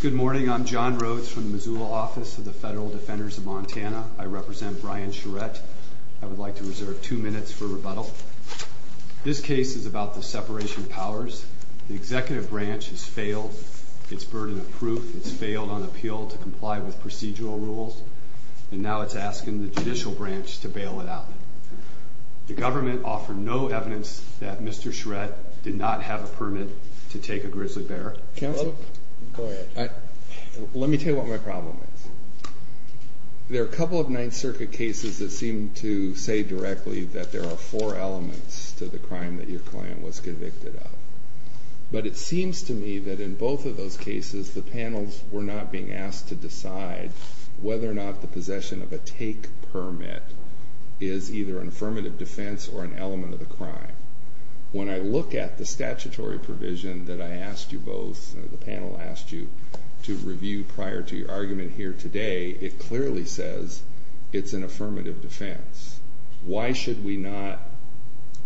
Good morning, I'm John Rhodes from the Missoula office of the Federal Defenders of Montana. I represent Brian Charette. I would like to reserve two minutes for rebuttal. This case is about the separation of powers. The executive branch has failed its burden of proof. It's failed on appeal to comply with procedural rules. And now it's asking the judicial branch to bail it out. The government offered no evidence that Mr. Charette did not have a permit to take a grizzly bear. Counsel? Go ahead. Let me tell you what my problem is. There are a couple of Ninth Circuit cases that seem to say directly that there are four elements to the crime that your client was convicted of. But it seems to me that in both of those cases, the panels were not being asked to decide whether or not the possession of a take permit is either an affirmative defense or an element of the crime. When I look at the statutory provision that I asked you both, the panel asked you to review prior to your argument here today, it clearly says it's an affirmative defense. Why should we not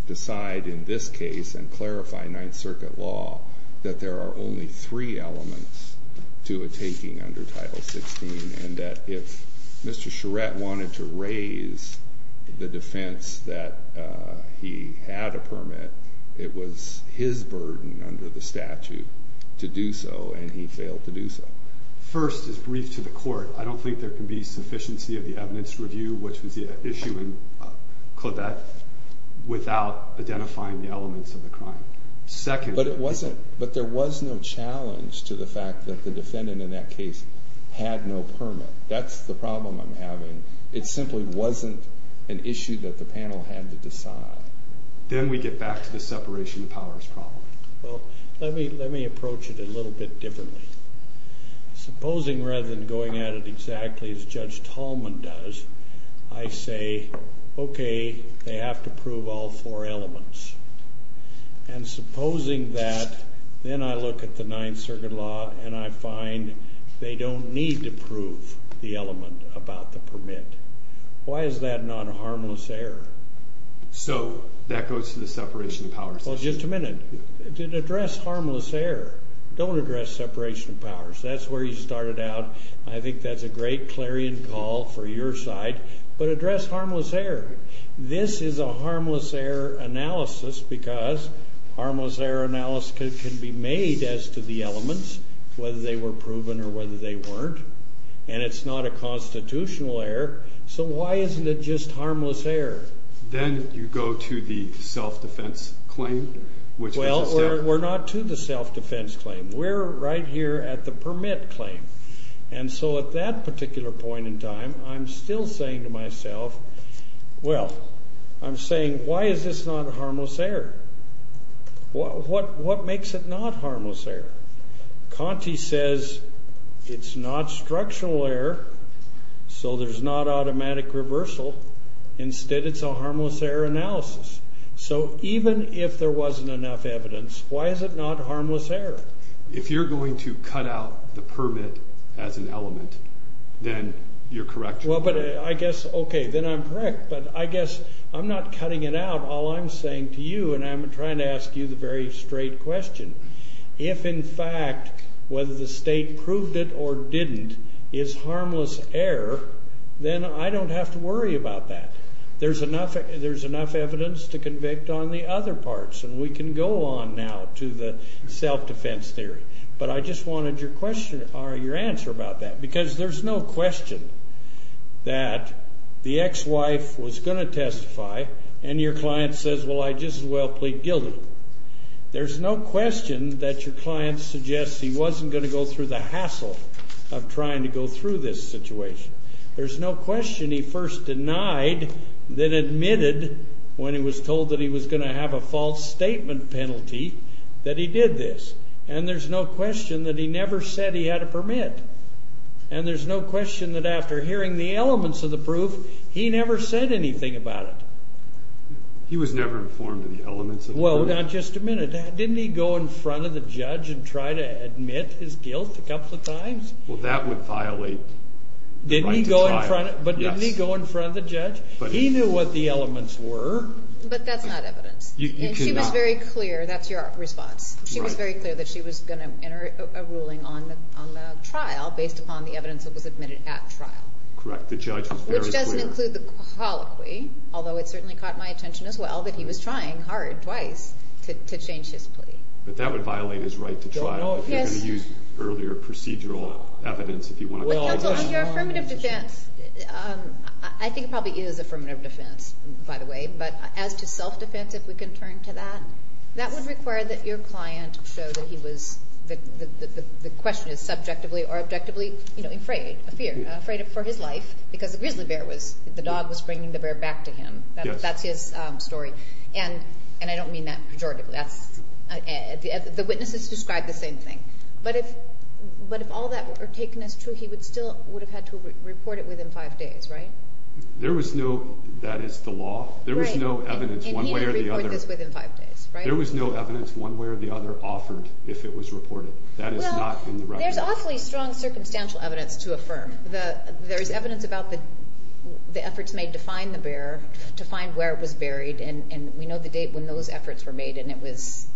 decide in this case and clarify Ninth Circuit law that there are only three elements to a taking under Title 16, and that if Mr. Charette wanted to raise the defense that he had a permit, it was his burden under the statute to do so, and he failed to do so? First, as briefed to the court, I don't think there can be sufficiency of the evidence review, which was the issue in Claudette, without identifying the elements of the crime. But there was no challenge to the fact that the defendant in that case had no permit. That's the problem I'm having. It simply wasn't an issue that the panel had to decide. Then we get back to the separation of powers problem. Well, let me approach it a little bit differently. Supposing rather than going at it exactly as Judge Tallman does, I say, okay, they have to prove all four elements. And supposing that then I look at the Ninth Circuit law and I find they don't need to prove the element about the permit. Why is that not a harmless error? So that goes to the separation of powers issue? Well, just a minute. It addressed harmless error. Don't address separation of powers. That's where you started out. I think that's a great clarion call for your side. But address harmless error. This is a harmless error analysis because harmless error analysis can be made as to the elements, whether they were proven or whether they weren't. And it's not a constitutional error. So why isn't it just harmless error? Then you go to the self-defense claim, which was a step. We're not to the self-defense claim. We're right here at the permit claim. And so at that particular point in time, I'm still saying to myself, well, I'm saying, why is this not a harmless error? What makes it not harmless error? Conti says it's not structural error, so there's not automatic reversal. Instead, it's a harmless error analysis. So even if there wasn't enough evidence, why is it not harmless error? If you're going to cut out the permit as an element, then you're correct. Well, but I guess, okay, then I'm correct. But I guess I'm not cutting it out, all I'm saying to you, and I'm trying to ask you the very straight question. If, in fact, whether the state proved it or didn't is harmless error, then I don't have to worry about that. There's enough evidence to convict on the other parts, and we can go on now to the self-defense theory. But I just wanted your answer about that, because there's no question that the ex-wife was going to testify, and your client says, well, I just as well plead guilty. There's no question that your client suggests he wasn't going to go through the hassle of trying to go through this situation. There's no question he first denied, then admitted when he was told that he was going to have a false statement penalty that he did this. And there's no question that he never said he had a permit. And there's no question that after hearing the elements of the proof, he never said anything about it. He was never informed of the elements of the permit? Well, not just a minute. Didn't he go in front of the judge and try to admit his guilt a couple of times? Well, that would violate the right to trial. Didn't he go in front of the judge? He knew what the elements were. But that's not evidence. And she was very clear. That's your response. She was very clear that she was going to enter a ruling on the trial based upon the evidence that was admitted at trial. Correct. The judge was very clear. Which doesn't include the colloquy, although it certainly caught my attention as well, that he was trying hard twice to change his plea. But that would violate his right to trial. Yes. If you're going to use earlier procedural evidence if you want to. Well, counsel, on your affirmative defense, I think it probably is affirmative defense, by the way. But as to self-defense, if we can turn to that, that would require that your client show that he was, that the question is subjectively or objectively, you know, afraid, afraid for his life because the grizzly bear was, the dog was bringing the bear back to him. Yes. That's his story. And I don't mean that pejoratively. The witnesses described the same thing. But if all that were taken as true, he still would have had to report it within five days, right? There was no, that is the law, there was no evidence one way or the other. And he didn't report this within five days, right? There was no evidence one way or the other offered if it was reported. That is not in the record. Well, there's awfully strong circumstantial evidence to affirm. There's evidence about the efforts made to find the bear, to find where it was buried, and we know the date when those efforts were made, and it was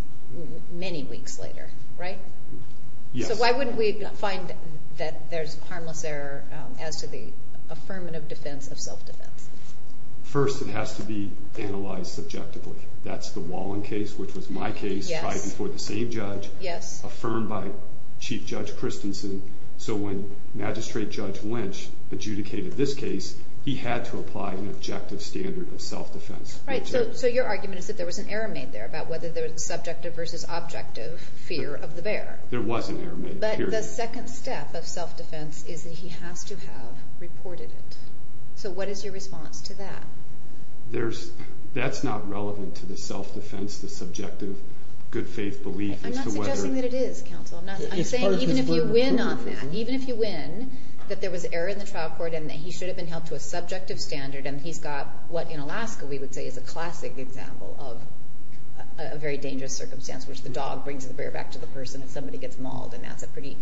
many weeks later, right? Yes. So why wouldn't we find that there's harmless error as to the affirmative defense of self-defense? First, it has to be analyzed subjectively. That's the Wallin case, which was my case, tried before the same judge. Yes. Affirmed by Chief Judge Christensen. So when Magistrate Judge Lynch adjudicated this case, he had to apply an objective standard of self-defense. Right. So your argument is that there was an error made there about whether there was subjective versus objective fear of the bear. There was an error made, period. But the second step of self-defense is that he has to have reported it. So what is your response to that? That's not relevant to the self-defense, the subjective good faith belief as to whether— I'm not suggesting that it is, counsel. I'm saying even if you win on that, even if you win, that there was error in the trial court and that he should have been held to a subjective standard. And he's got what in Alaska we would say is a classic example of a very dangerous circumstance, which the dog brings the bear back to the person if somebody gets mauled, and that's a pretty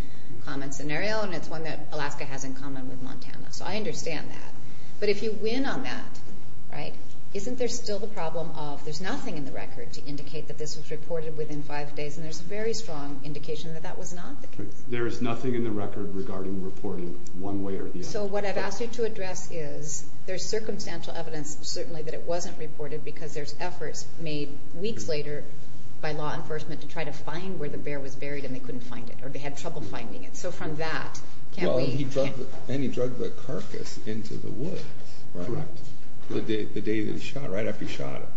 common scenario. And it's one that Alaska has in common with Montana. So I understand that. But if you win on that, right, isn't there still the problem of there's nothing in the record to indicate that this was reported within five days? And there's a very strong indication that that was not the case. There is nothing in the record regarding reporting one way or the other. So what I've asked you to address is there's circumstantial evidence certainly that it wasn't reported because there's efforts made weeks later by law enforcement to try to find where the bear was buried and they couldn't find it or they had trouble finding it. So from that, can't we— And he drug the carcass into the woods, right, the day that he shot, right after he shot it,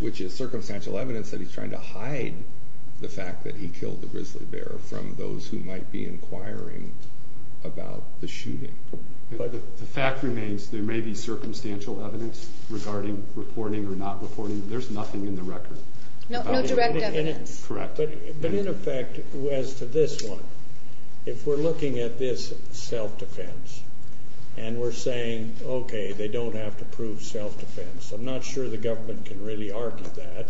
which is circumstantial evidence that he's trying to hide the fact that he killed the grizzly bear from those who might be inquiring about the shooting. The fact remains there may be circumstantial evidence regarding reporting or not reporting. There's nothing in the record. No direct evidence. Correct. But in effect, as to this one, if we're looking at this self-defense and we're saying, okay, they don't have to prove self-defense, I'm not sure the government can really argue that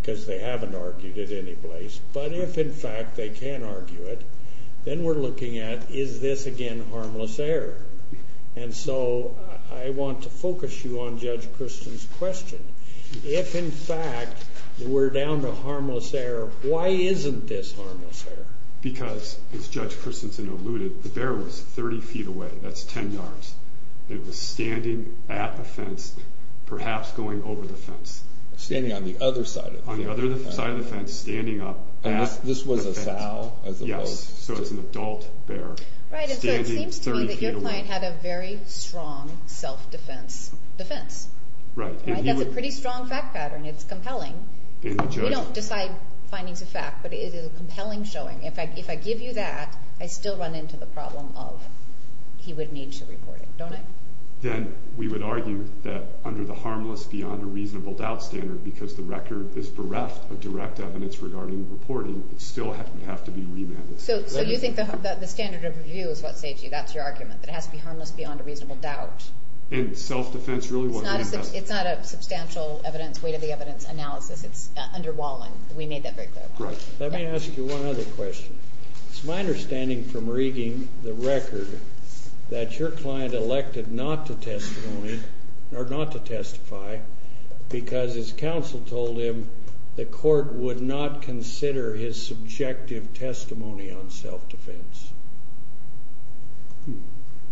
because they haven't argued it any place. But if, in fact, they can argue it, then we're looking at, is this, again, harmless error? And so I want to focus you on Judge Christensen's question. If, in fact, we're down to harmless error, why isn't this harmless error? Because, as Judge Christensen alluded, the bear was 30 feet away. That's 10 yards. It was standing at the fence, perhaps going over the fence. Standing on the other side of the fence. Standing up at the fence. And this was a sow as opposed to? Yes. So it's an adult bear. Right. And so it seems to me that your client had a very strong self-defense defense. Right. That's a pretty strong fact pattern. It's compelling. We don't decide findings of fact, but it is a compelling showing. In fact, if I give you that, I still run into the problem of he would need to report it, don't I? Then we would argue that under the harmless beyond a reasonable doubt standard, because the record is bereft of direct evidence regarding reporting, it still would have to be remanded. So you think the standard of review is what saves you? That's your argument? That it has to be harmless beyond a reasonable doubt? And self-defense really wasn't the best? It's not a substantial weight of the evidence analysis. It's underwhelming. We made that very clear. Right. Let me ask you one other question. It's my understanding from reading the record that your client elected not to testify because his counsel told him the court would not consider his subjective testimony on self-defense.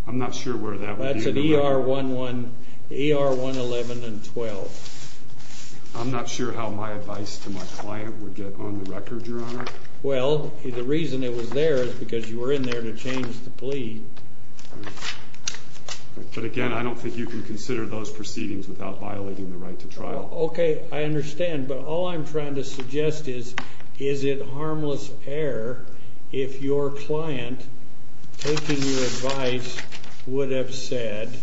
I'm not sure where that would be in the record. That's in ER 111 and 12. I'm not sure how my advice to my client would get on the record, Your Honor. Well, the reason it was there is because you were in there to change the plea. But, again, I don't think you can consider those proceedings without violating the right to trial. Okay, I understand. But all I'm trying to suggest is, is it harmless error if your client, taking your advice, would have said,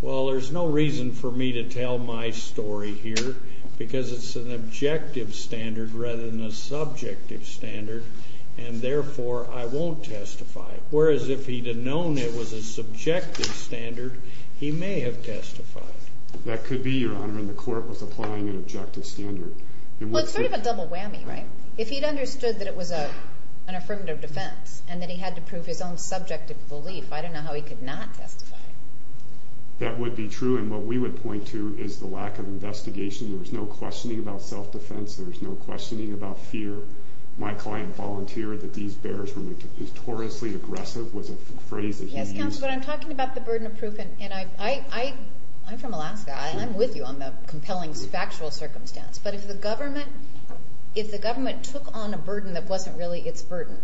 well, there's no reason for me to tell my story here because it's an objective standard rather than a subjective standard, and, therefore, I won't testify. Whereas if he'd have known it was a subjective standard, he may have testified. That could be, Your Honor, and the court was applying an objective standard. Well, it's sort of a double whammy, right? If he'd understood that it was an affirmative defense and that he had to prove his own subjective belief, I don't know how he could not testify. That would be true, and what we would point to is the lack of investigation. There was no questioning about self-defense. There was no questioning about fear. My client volunteered that these bears were notoriously aggressive was a phrase that he used. Yes, Counselor, but I'm talking about the burden of proof, and I'm from Alaska. I'm with you on the compelling factual circumstance. But if the government took on a burden that wasn't really its burden,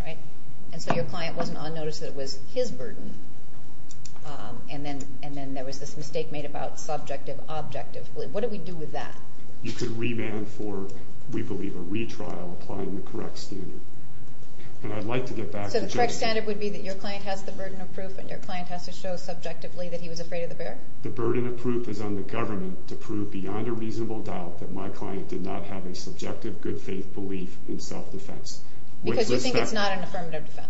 right, and so your client wasn't unnoticed that it was his burden, and then there was this mistake made about subjective-objective belief, what do we do with that? You could remand for, we believe, a retrial, applying the correct standard. And I'd like to get back to Judge Hallman. So the correct standard would be that your client has the burden of proof and your client has to show subjectively that he was afraid of the bear? The burden of proof is on the government to prove beyond a reasonable doubt that my client did not have a subjective good-faith belief in self-defense. Because you think it's not an affirmative defense?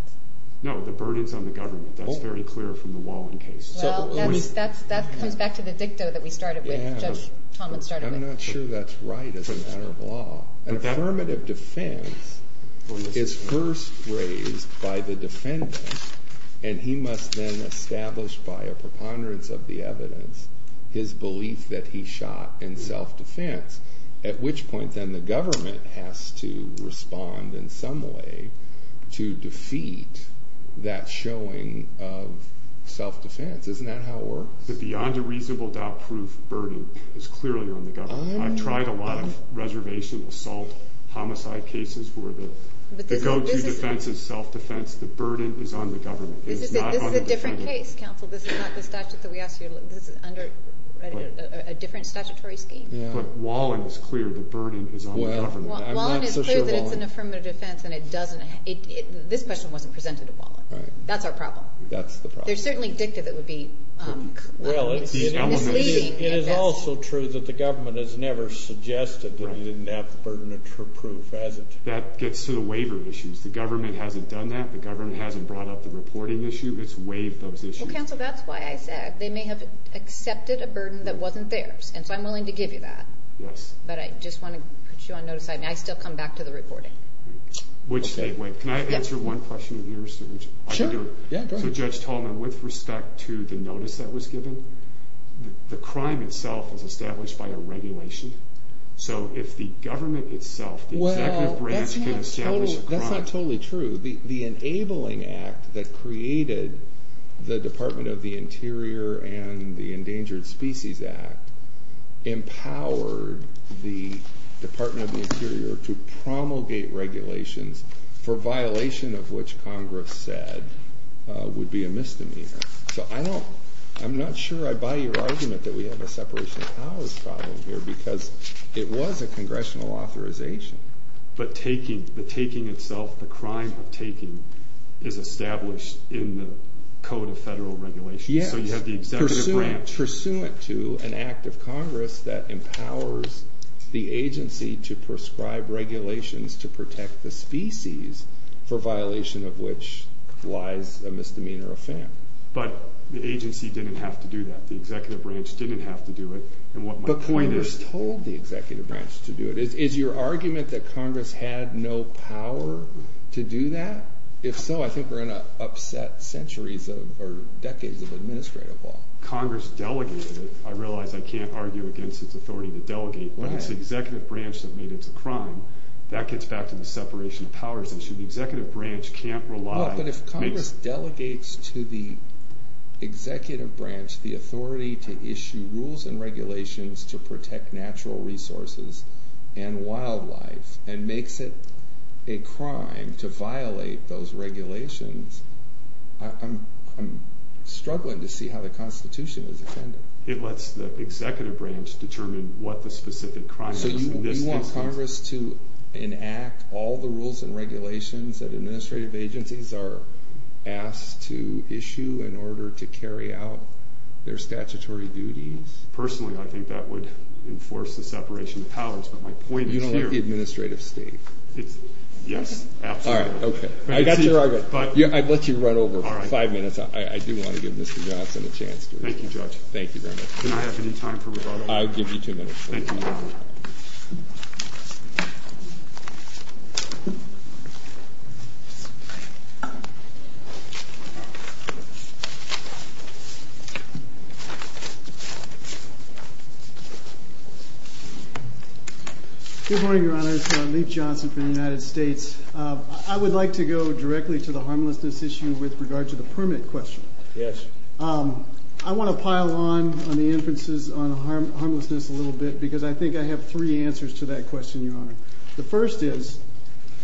No, the burden is on the government. That's very clear from the Wallin case. That comes back to the dicto that we started with, Judge Hallman started with. I'm not sure that's right as a matter of law. An affirmative defense is first raised by the defendant, and he must then establish by a preponderance of the evidence his belief that he shot in self-defense, at which point then the government has to respond in some way to defeat that showing of self-defense. Isn't that how it works? The beyond a reasonable doubt proof burden is clearly on the government. I've tried a lot of reservation assault homicide cases where the go-to defense is self-defense. The burden is on the government. This is a different case, counsel. This is not the statute that we asked you to look at. This is under a different statutory scheme. But Wallin is clear the burden is on the government. Wallin is clear that it's an affirmative defense. This question wasn't presented to Wallin. That's our problem. That's the problem. There's certainly dicta that would be misleading. It is also true that the government has never suggested that you didn't have the burden of true proof, has it? That gets to the waiver issues. The government hasn't done that. The government hasn't brought up the reporting issue. It's waived those issues. Counsel, that's why I said they may have accepted a burden that wasn't theirs, and so I'm willing to give you that. But I just want to put you on notice. I still come back to the reporting. Wait. Can I answer one question of yours? Sure. Go ahead. Judge Tolman, with respect to the notice that was given, the crime itself was established by a regulation. So if the government itself, the executive branch, can establish a crime. That's not totally true. The Enabling Act that created the Department of the Interior and the Endangered Species Act empowered the Department of the Interior to promulgate regulations for violation of which Congress said would be a misdemeanor. So I'm not sure I buy your argument that we have a separation of powers problem here because it was a congressional authorization. But the taking itself, the crime of taking, is established in the Code of Federal Regulations. Yes. So you have the executive branch. Pursuant to an act of Congress that empowers the agency to prescribe regulations to protect the species for violation of which lies a misdemeanor offense. But the agency didn't have to do that. The executive branch didn't have to do it. But Congress told the executive branch to do it. Is your argument that Congress had no power to do that? If so, I think we're in an upset decades of administrative law. Congress delegated it. I realize I can't argue against its authority to delegate. But it's the executive branch that made it a crime. That gets back to the separation of powers issue. The executive branch can't rely. But if Congress delegates to the executive branch the authority to issue rules and regulations to protect natural resources and wildlife and makes it a crime to violate those regulations, I'm struggling to see how the Constitution is offended. It lets the executive branch determine what the specific crime is. So you want Congress to enact all the rules and regulations that administrative agencies are asked to issue in order to carry out their statutory duties? Personally, I think that would enforce the separation of powers. But my point is here. You don't like the administrative state? Yes, absolutely. All right, okay. I got your argument. I'd let you run over five minutes. I do want to give Mr. Johnson a chance to respond. Thank you, Judge. Thank you very much. Do I have any time for rebuttal? I'll give you two minutes. Thank you, Your Honor. Good morning, Your Honor. It's Leif Johnson from the United States. I would like to go directly to the harmlessness issue with regard to the permit question. Yes. I want to pile on the inferences on harmlessness a little bit because I think I have three answers to that question, Your Honor. The first is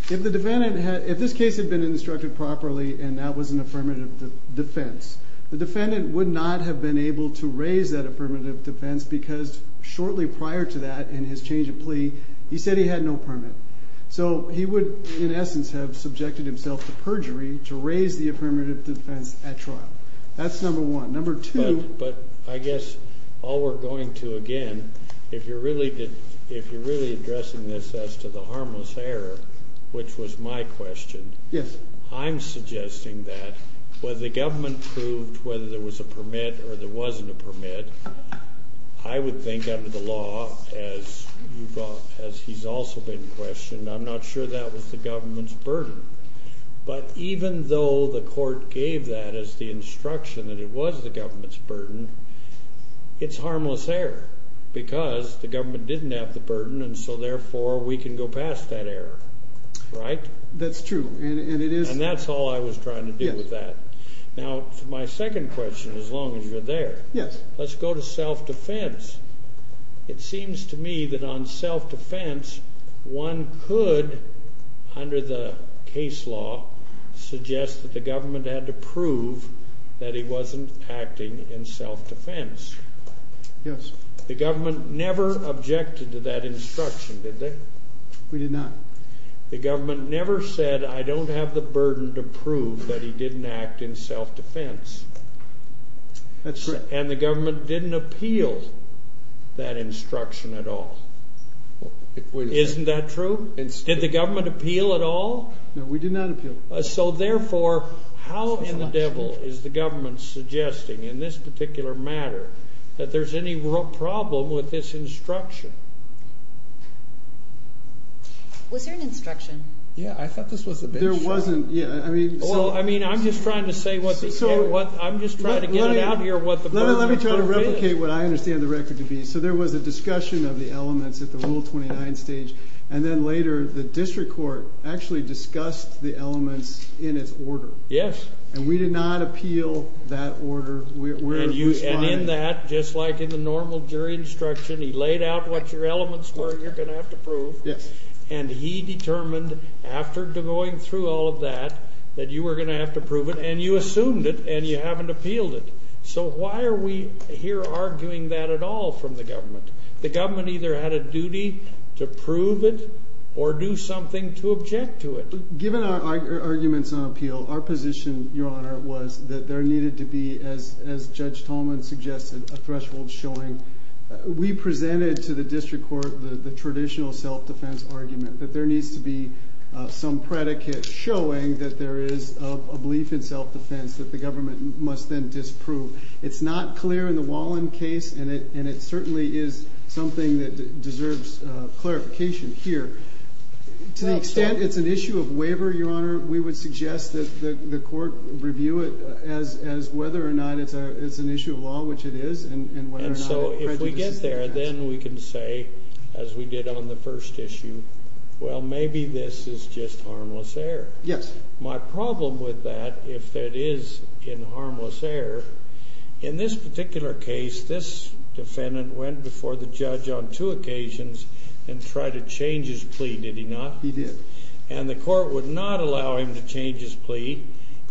if this case had been instructed properly and that was an affirmative defense, the defendant would not have been able to raise that affirmative defense because shortly prior to that in his change of plea, he said he had no permit. So he would, in essence, have subjected himself to perjury to raise the affirmative defense at trial. That's number one. Number two. But I guess all we're going to, again, if you're really addressing this as to the harmless error, which was my question. Yes. I'm suggesting that whether the government proved whether there was a permit or there wasn't a permit, I would think under the law, as he's also been questioned, I'm not sure that was the government's burden. But even though the court gave that as the instruction that it was the government's burden, it's harmless error because the government didn't have the burden, and so, therefore, we can go past that error. Right? That's true. And that's all I was trying to do with that. Now, my second question, as long as you're there. Yes. Let's go to self-defense. It seems to me that on self-defense, one could, under the case law, suggest that the government had to prove that he wasn't acting in self-defense. Yes. The government never objected to that instruction, did they? We did not. The government never said, I don't have the burden to prove that he didn't act in self-defense. That's right. And the government didn't appeal that instruction at all. Isn't that true? Did the government appeal at all? No, we did not appeal. So, therefore, how in the devil is the government suggesting, in this particular matter, that there's any problem with this instruction? Was there an instruction? Yeah. I thought this was a bench. There wasn't. Yeah. Well, I mean, I'm just trying to get it out here what the burden of self-defense is. Let me try to replicate what I understand the record to be. So there was a discussion of the elements at the Rule 29 stage, and then later the district court actually discussed the elements in its order. Yes. And we did not appeal that order. And in that, just like in the normal jury instruction, he laid out what your elements were you're going to have to prove. Yes. And he determined, after going through all of that, that you were going to have to prove it, and you assumed it, and you haven't appealed it. So why are we here arguing that at all from the government? The government either had a duty to prove it or do something to object to it. Given our arguments on appeal, our position, Your Honor, was that there needed to be, as Judge Tolman suggested, a threshold showing. We presented to the district court the traditional self-defense argument, that there needs to be some predicate showing that there is a belief in self-defense that the government must then disprove. It's not clear in the Wallin case, and it certainly is something that deserves clarification here. To the extent it's an issue of waiver, Your Honor, we would suggest that the court review it as whether or not it's an issue of law, which it is, and whether or not it prejudices the defense. And so if we get there, then we can say, as we did on the first issue, well, maybe this is just harmless error. Yes. My problem with that, if it is in harmless error, in this particular case, this defendant went before the judge on two occasions and tried to change his plea, did he not? He did. And the court would not allow him to change his plea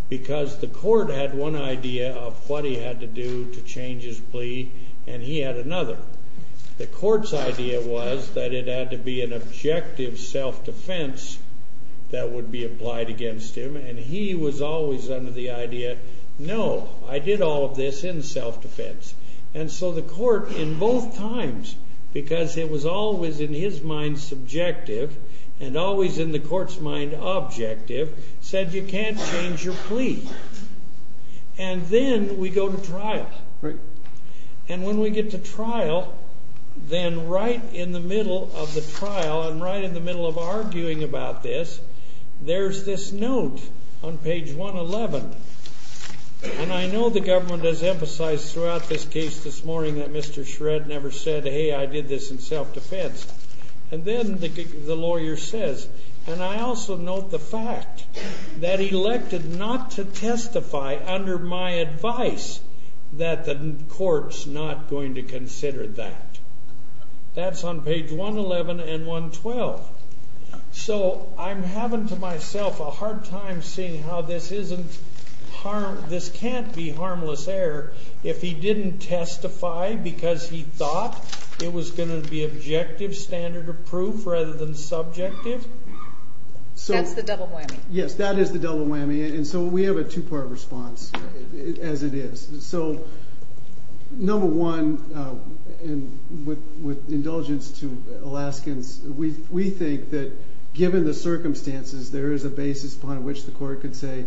because the court had one idea of what he had to do to change his plea, and he had another. The court's idea was that it had to be an objective self-defense that would be applied against him, and he was always under the idea, no, I did all of this in self-defense. And so the court, in both times, because it was always in his mind subjective and always in the court's mind objective, said you can't change your plea. And then we go to trial. Right. And when we get to trial, then right in the middle of the trial and right in the middle of arguing about this, there's this note on page 111. And I know the government has emphasized throughout this case this morning that Mr. Shred never said, hey, I did this in self-defense. And then the lawyer says, and I also note the fact that he elected not to testify under my advice that the court's not going to consider that. That's on page 111 and 112. So I'm having to myself a hard time seeing how this can't be harmless error if he didn't testify because he thought it was going to be objective, standard of proof rather than subjective. That's the double whammy. Yes, that is the double whammy. And so we have a two-part response, as it is. So number one, with indulgence to Alaskans, we think that given the circumstances there is a basis upon which the court could say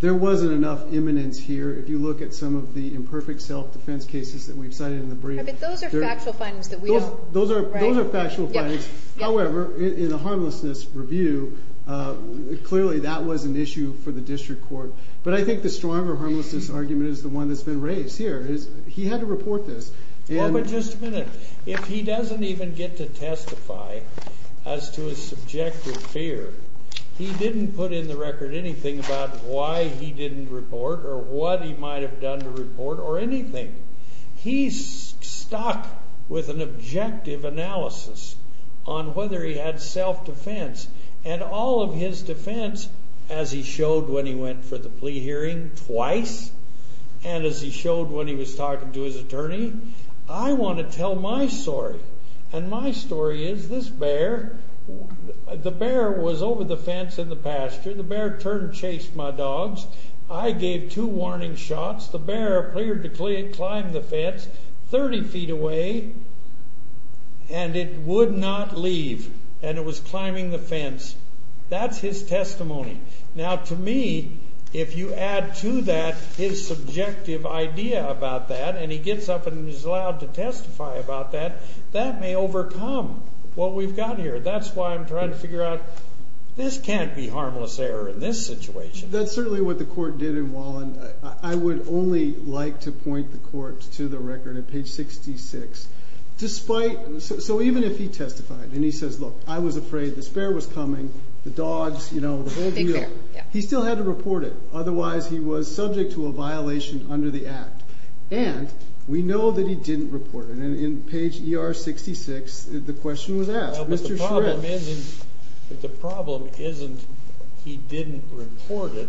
there wasn't enough imminence here. If you look at some of the imperfect self-defense cases that we've cited in the brief. Those are factual findings. Those are factual findings. However, in a harmlessness review, clearly that was an issue for the district court. But I think the stronger harmlessness argument is the one that's been raised here. He had to report this. Well, but just a minute. If he doesn't even get to testify as to his subjective fear, he didn't put in the record anything about why he didn't report or what he might have done to report or anything. He stuck with an objective analysis on whether he had self-defense. And all of his defense, as he showed when he went for the plea hearing twice, and as he showed when he was talking to his attorney, I want to tell my story. And my story is this bear, the bear was over the fence in the pasture. The bear turned and chased my dogs. I gave two warning shots. The bear cleared to climb the fence 30 feet away, and it would not leave. And it was climbing the fence. That's his testimony. Now, to me, if you add to that his subjective idea about that, and he gets up and is allowed to testify about that, that may overcome what we've got here. That's why I'm trying to figure out this can't be harmless error in this situation. That's certainly what the court did in Wallen. I would only like to point the court to the record at page 66. So even if he testified and he says, look, I was afraid this bear was coming, the dogs, you know, the whole deal. He still had to report it. Otherwise, he was subject to a violation under the act. And we know that he didn't report it. And in page ER66, the question was asked. Mr. Shrek. The problem isn't he didn't report it.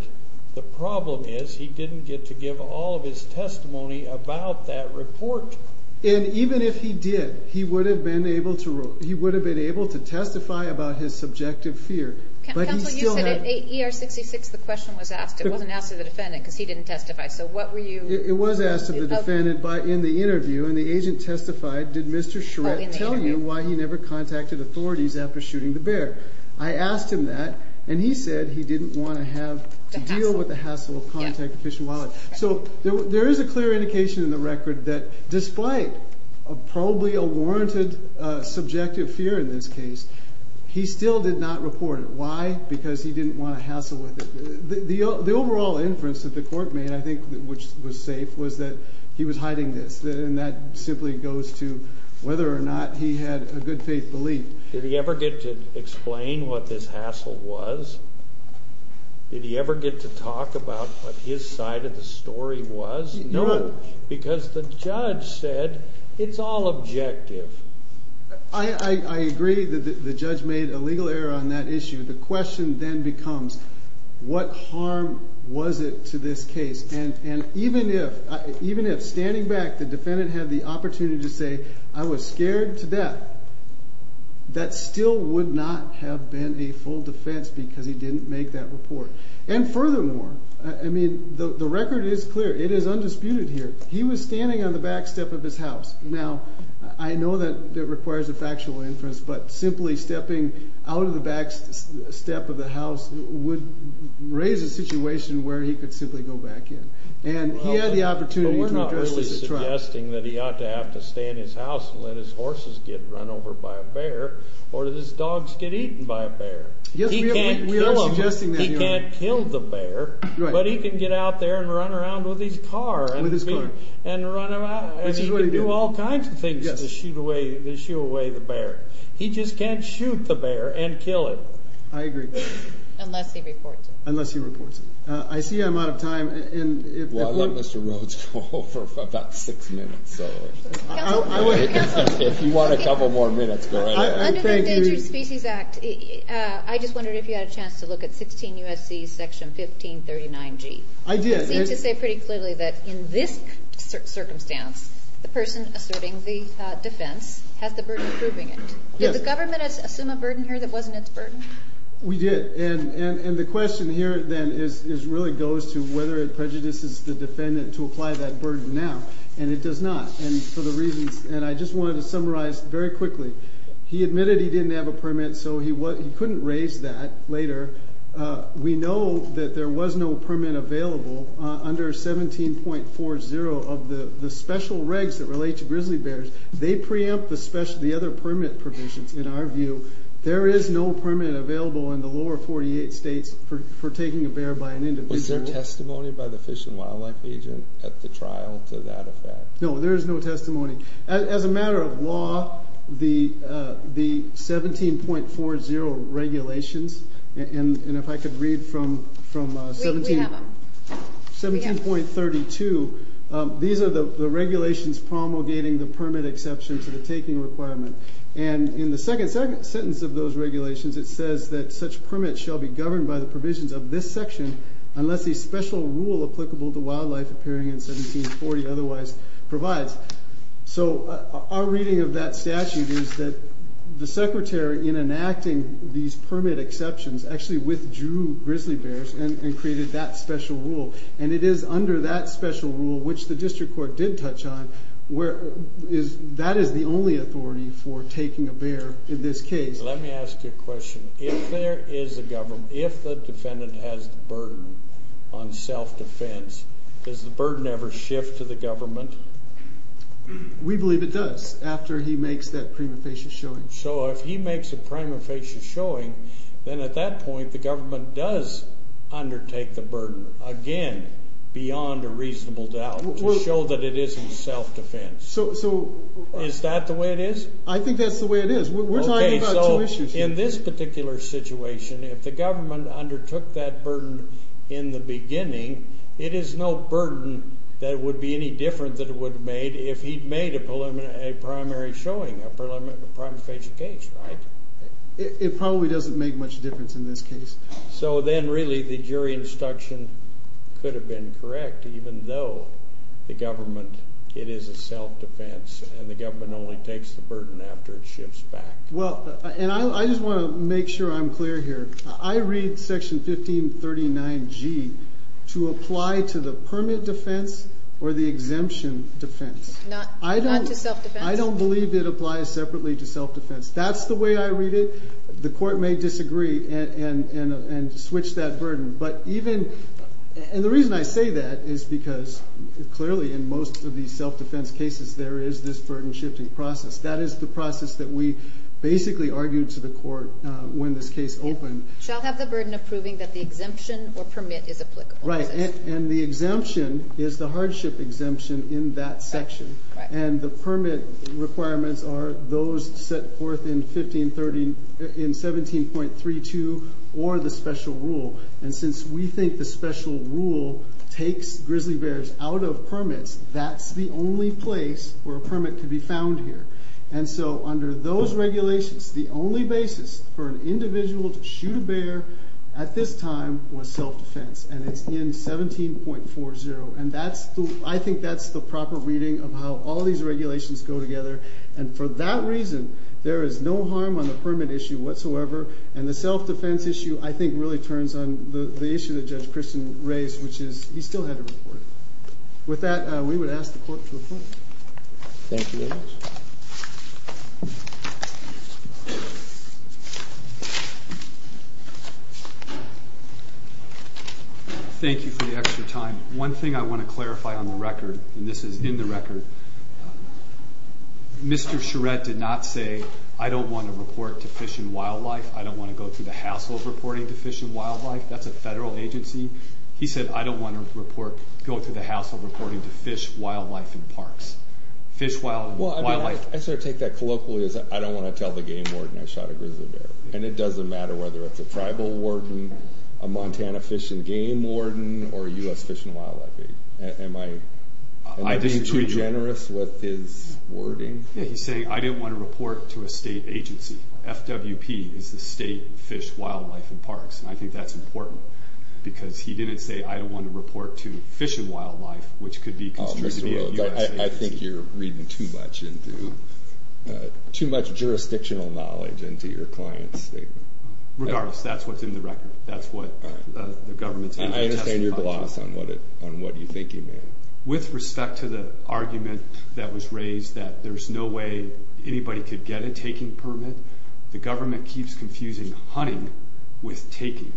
The problem is he didn't get to give all of his testimony about that report. And even if he did, he would have been able to testify about his subjective fear. Counsel, you said at ER66 the question was asked. It wasn't asked of the defendant because he didn't testify. So what were you? It was asked of the defendant. But in the interview, and the agent testified, did Mr. Shrek tell you why he never contacted authorities after shooting the bear? I asked him that, and he said he didn't want to have to deal with the hassle of contacting Fish and Wildlife. So there is a clear indication in the record that despite probably a warranted subjective fear in this case, he still did not report it. Why? Because he didn't want to hassle with it. The overall inference that the court made, I think, which was safe, was that he was hiding this. And that simply goes to whether or not he had a good faith belief. Did he ever get to explain what this hassle was? Did he ever get to talk about what his side of the story was? No. Because the judge said it's all objective. I agree that the judge made a legal error on that issue. The question then becomes, what harm was it to this case? And even if standing back the defendant had the opportunity to say, I was scared to death, that still would not have been a full defense because he didn't make that report. And furthermore, I mean, the record is clear. It is undisputed here. He was standing on the back step of his house. Now, I know that that requires a factual inference, but simply stepping out of the back step of the house would raise a situation where he could simply go back in. And he had the opportunity to address the trap. But we're not really suggesting that he ought to have to stay in his house and let his horses get run over by a bear or his dogs get eaten by a bear. He can't kill the bear. But he can get out there and run around with his car. With his car. Which is what he did. And he can do all kinds of things to shoot away the bear. He just can't shoot the bear and kill it. I agree. Unless he reports it. Unless he reports it. I see I'm out of time. Well, I'll let Mr. Rhodes go for about six minutes. If you want a couple more minutes, go ahead. Under the Endangered Species Act, I just wondered if you had a chance to look at 16 U.S.C. section 1539G. I did. You seem to say pretty clearly that in this circumstance, the person asserting the defense has the burden of proving it. Did the government assume a burden here that wasn't its burden? We did. And the question here, then, really goes to whether it prejudices the defendant to apply that burden now. And it does not. And I just wanted to summarize very quickly. He admitted he didn't have a permit, so he couldn't raise that later. We know that there was no permit available under 17.40 of the special regs that relate to grizzly bears. They preempt the other permit provisions, in our view. There is no permit available in the lower 48 states for taking a bear by an individual. Was there testimony by the Fish and Wildlife agent at the trial to that effect? No, there is no testimony. As a matter of law, the 17.40 regulations, and if I could read from 17.32, these are the regulations promulgating the permit exception to the taking requirement. And in the second sentence of those regulations, it says that such permits shall be governed by the provisions of this section unless a special rule applicable to wildlife appearing in 17.40 otherwise provides. So our reading of that statute is that the secretary, in enacting these permit exceptions, actually withdrew grizzly bears and created that special rule. And it is under that special rule, which the district court did touch on, that is the only authority for taking a bear in this case. Let me ask you a question. If there is a government, if the defendant has the burden on self-defense, does the burden ever shift to the government? We believe it does after he makes that prima facie showing. So if he makes a prima facie showing, then at that point the government does undertake the burden, again, beyond a reasonable doubt to show that it isn't self-defense. So is that the way it is? I think that's the way it is. We're talking about two issues here. If the government undertook that burden in the beginning, it is no burden that it would be any different that it would have made if he'd made a primary showing, a prima facie case, right? It probably doesn't make much difference in this case. So then really the jury instruction could have been correct, even though the government, it is a self-defense, and the government only takes the burden after it shifts back. Well, and I just want to make sure I'm clear here. I read Section 1539G to apply to the permit defense or the exemption defense. Not to self-defense? I don't believe it applies separately to self-defense. That's the way I read it. The court may disagree and switch that burden. And the reason I say that is because clearly in most of these self-defense cases there is this burden-shifting process. That is the process that we basically argued to the court when this case opened. Shall have the burden of proving that the exemption or permit is applicable. Right, and the exemption is the hardship exemption in that section. And the permit requirements are those set forth in 17.32 or the special rule. And since we think the special rule takes grizzly bears out of permits, that's the only place where a permit can be found here. And so under those regulations, the only basis for an individual to shoot a bear at this time was self-defense, and it's in 17.40. And I think that's the proper reading of how all these regulations go together. And for that reason, there is no harm on the permit issue whatsoever, and the self-defense issue I think really turns on the issue that Judge Christian raised, which is he still had to report it. With that, we would ask the court to report. Thank you very much. Thank you for the extra time. One thing I want to clarify on the record, and this is in the record, Mr. Charette did not say, I don't want to report to Fish and Wildlife. I don't want to go through the hassle of reporting to Fish and Wildlife. That's a federal agency. He said, I don't want to go through the hassle of reporting to Fish, Wildlife, and Parks. Fish, Wildlife, and Parks. I sort of take that colloquially as I don't want to tell the game warden I shot a grizzly bear, and it doesn't matter whether it's a tribal warden, a Montana Fish and Game warden, or a U.S. Fish and Wildlife agent. Am I being too generous with his wording? Yeah, he's saying, I didn't want to report to a state agency. FWP is the State Fish, Wildlife, and Parks, and I think that's important because he didn't say, I don't want to report to Fish and Wildlife, which could be construed to be a U.S. agency. I think you're reading too much jurisdictional knowledge into your client's statement. Regardless, that's what's in the record. That's what the government's able to testify to. I understand your gloss on what you think he meant. With respect to the argument that was raised that there's no way anybody could get a taking permit, the government keeps confusing hunting with taking,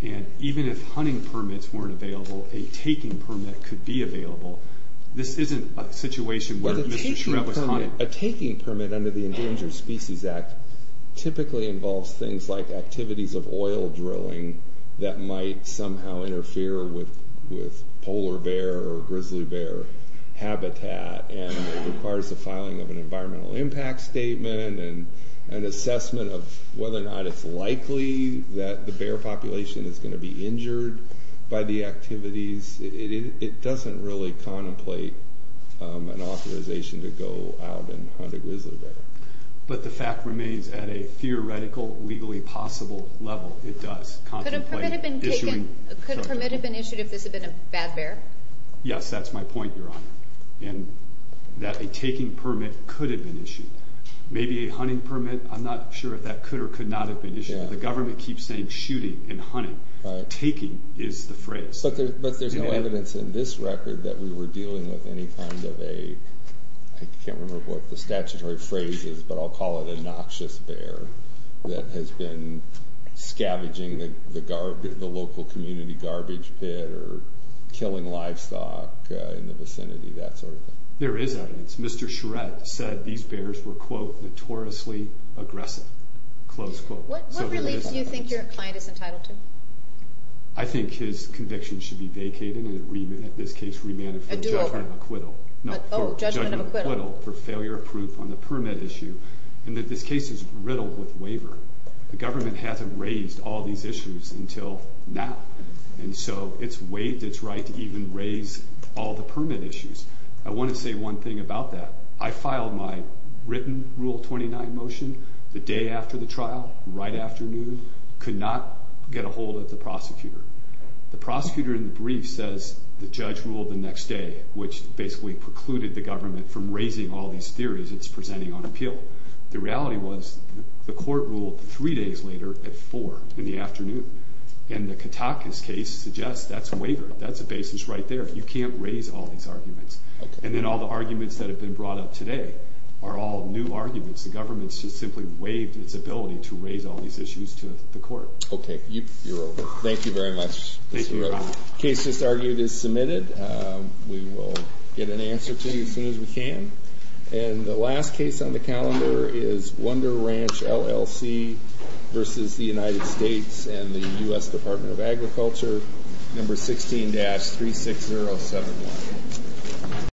and even if hunting permits weren't available, a taking permit could be available. This isn't a situation where Mr. Shreve was hunting. A taking permit under the Endangered Species Act typically involves things like activities of oil drilling that might somehow interfere with polar bear or grizzly bear habitat, and requires the filing of an environmental impact statement and an assessment of whether or not it's likely that the bear population is going to be injured by the activities. It doesn't really contemplate an authorization to go out and hunt a grizzly bear. But the fact remains, at a theoretical, legally possible level, it does contemplate issuing. Could a permit have been issued if this had been a bad bear? Yes, that's my point, Your Honor. And that a taking permit could have been issued. Maybe a hunting permit, I'm not sure if that could or could not have been issued. The government keeps saying shooting and hunting. Taking is the phrase. But there's no evidence in this record that we were dealing with any kind of a, I can't remember what the statutory phrase is, but I'll call it a noxious bear that has been scavenging the local community garbage pit or killing livestock in the vicinity, that sort of thing. There is evidence. Mr. Charette said these bears were, quote, notoriously aggressive, close quote. What relief do you think your client is entitled to? I think his conviction should be vacated and, in this case, remanded for judgment of acquittal. Oh, judgment of acquittal. For failure of proof on the permit issue. And that this case is riddled with waiver. The government hasn't raised all these issues until now. And so it's waived its right to even raise all the permit issues. I want to say one thing about that. I filed my written Rule 29 motion the day after the trial, right after noon. Could not get a hold of the prosecutor. The prosecutor in the brief says the judge ruled the next day, which basically precluded the government from raising all these theories it's presenting on appeal. The reality was the court ruled three days later at four in the afternoon. And the Katakis case suggests that's a waiver. That's a basis right there. You can't raise all these arguments. And then all the arguments that have been brought up today are all new arguments. The government's just simply waived its ability to raise all these issues to the court. Okay, you're over. Thank you very much. Case just argued is submitted. We will get an answer to you as soon as we can. And the last case on the calendar is Wonder Ranch, LLC, versus the United States and the U.S. Department of Agriculture, number 16-36071.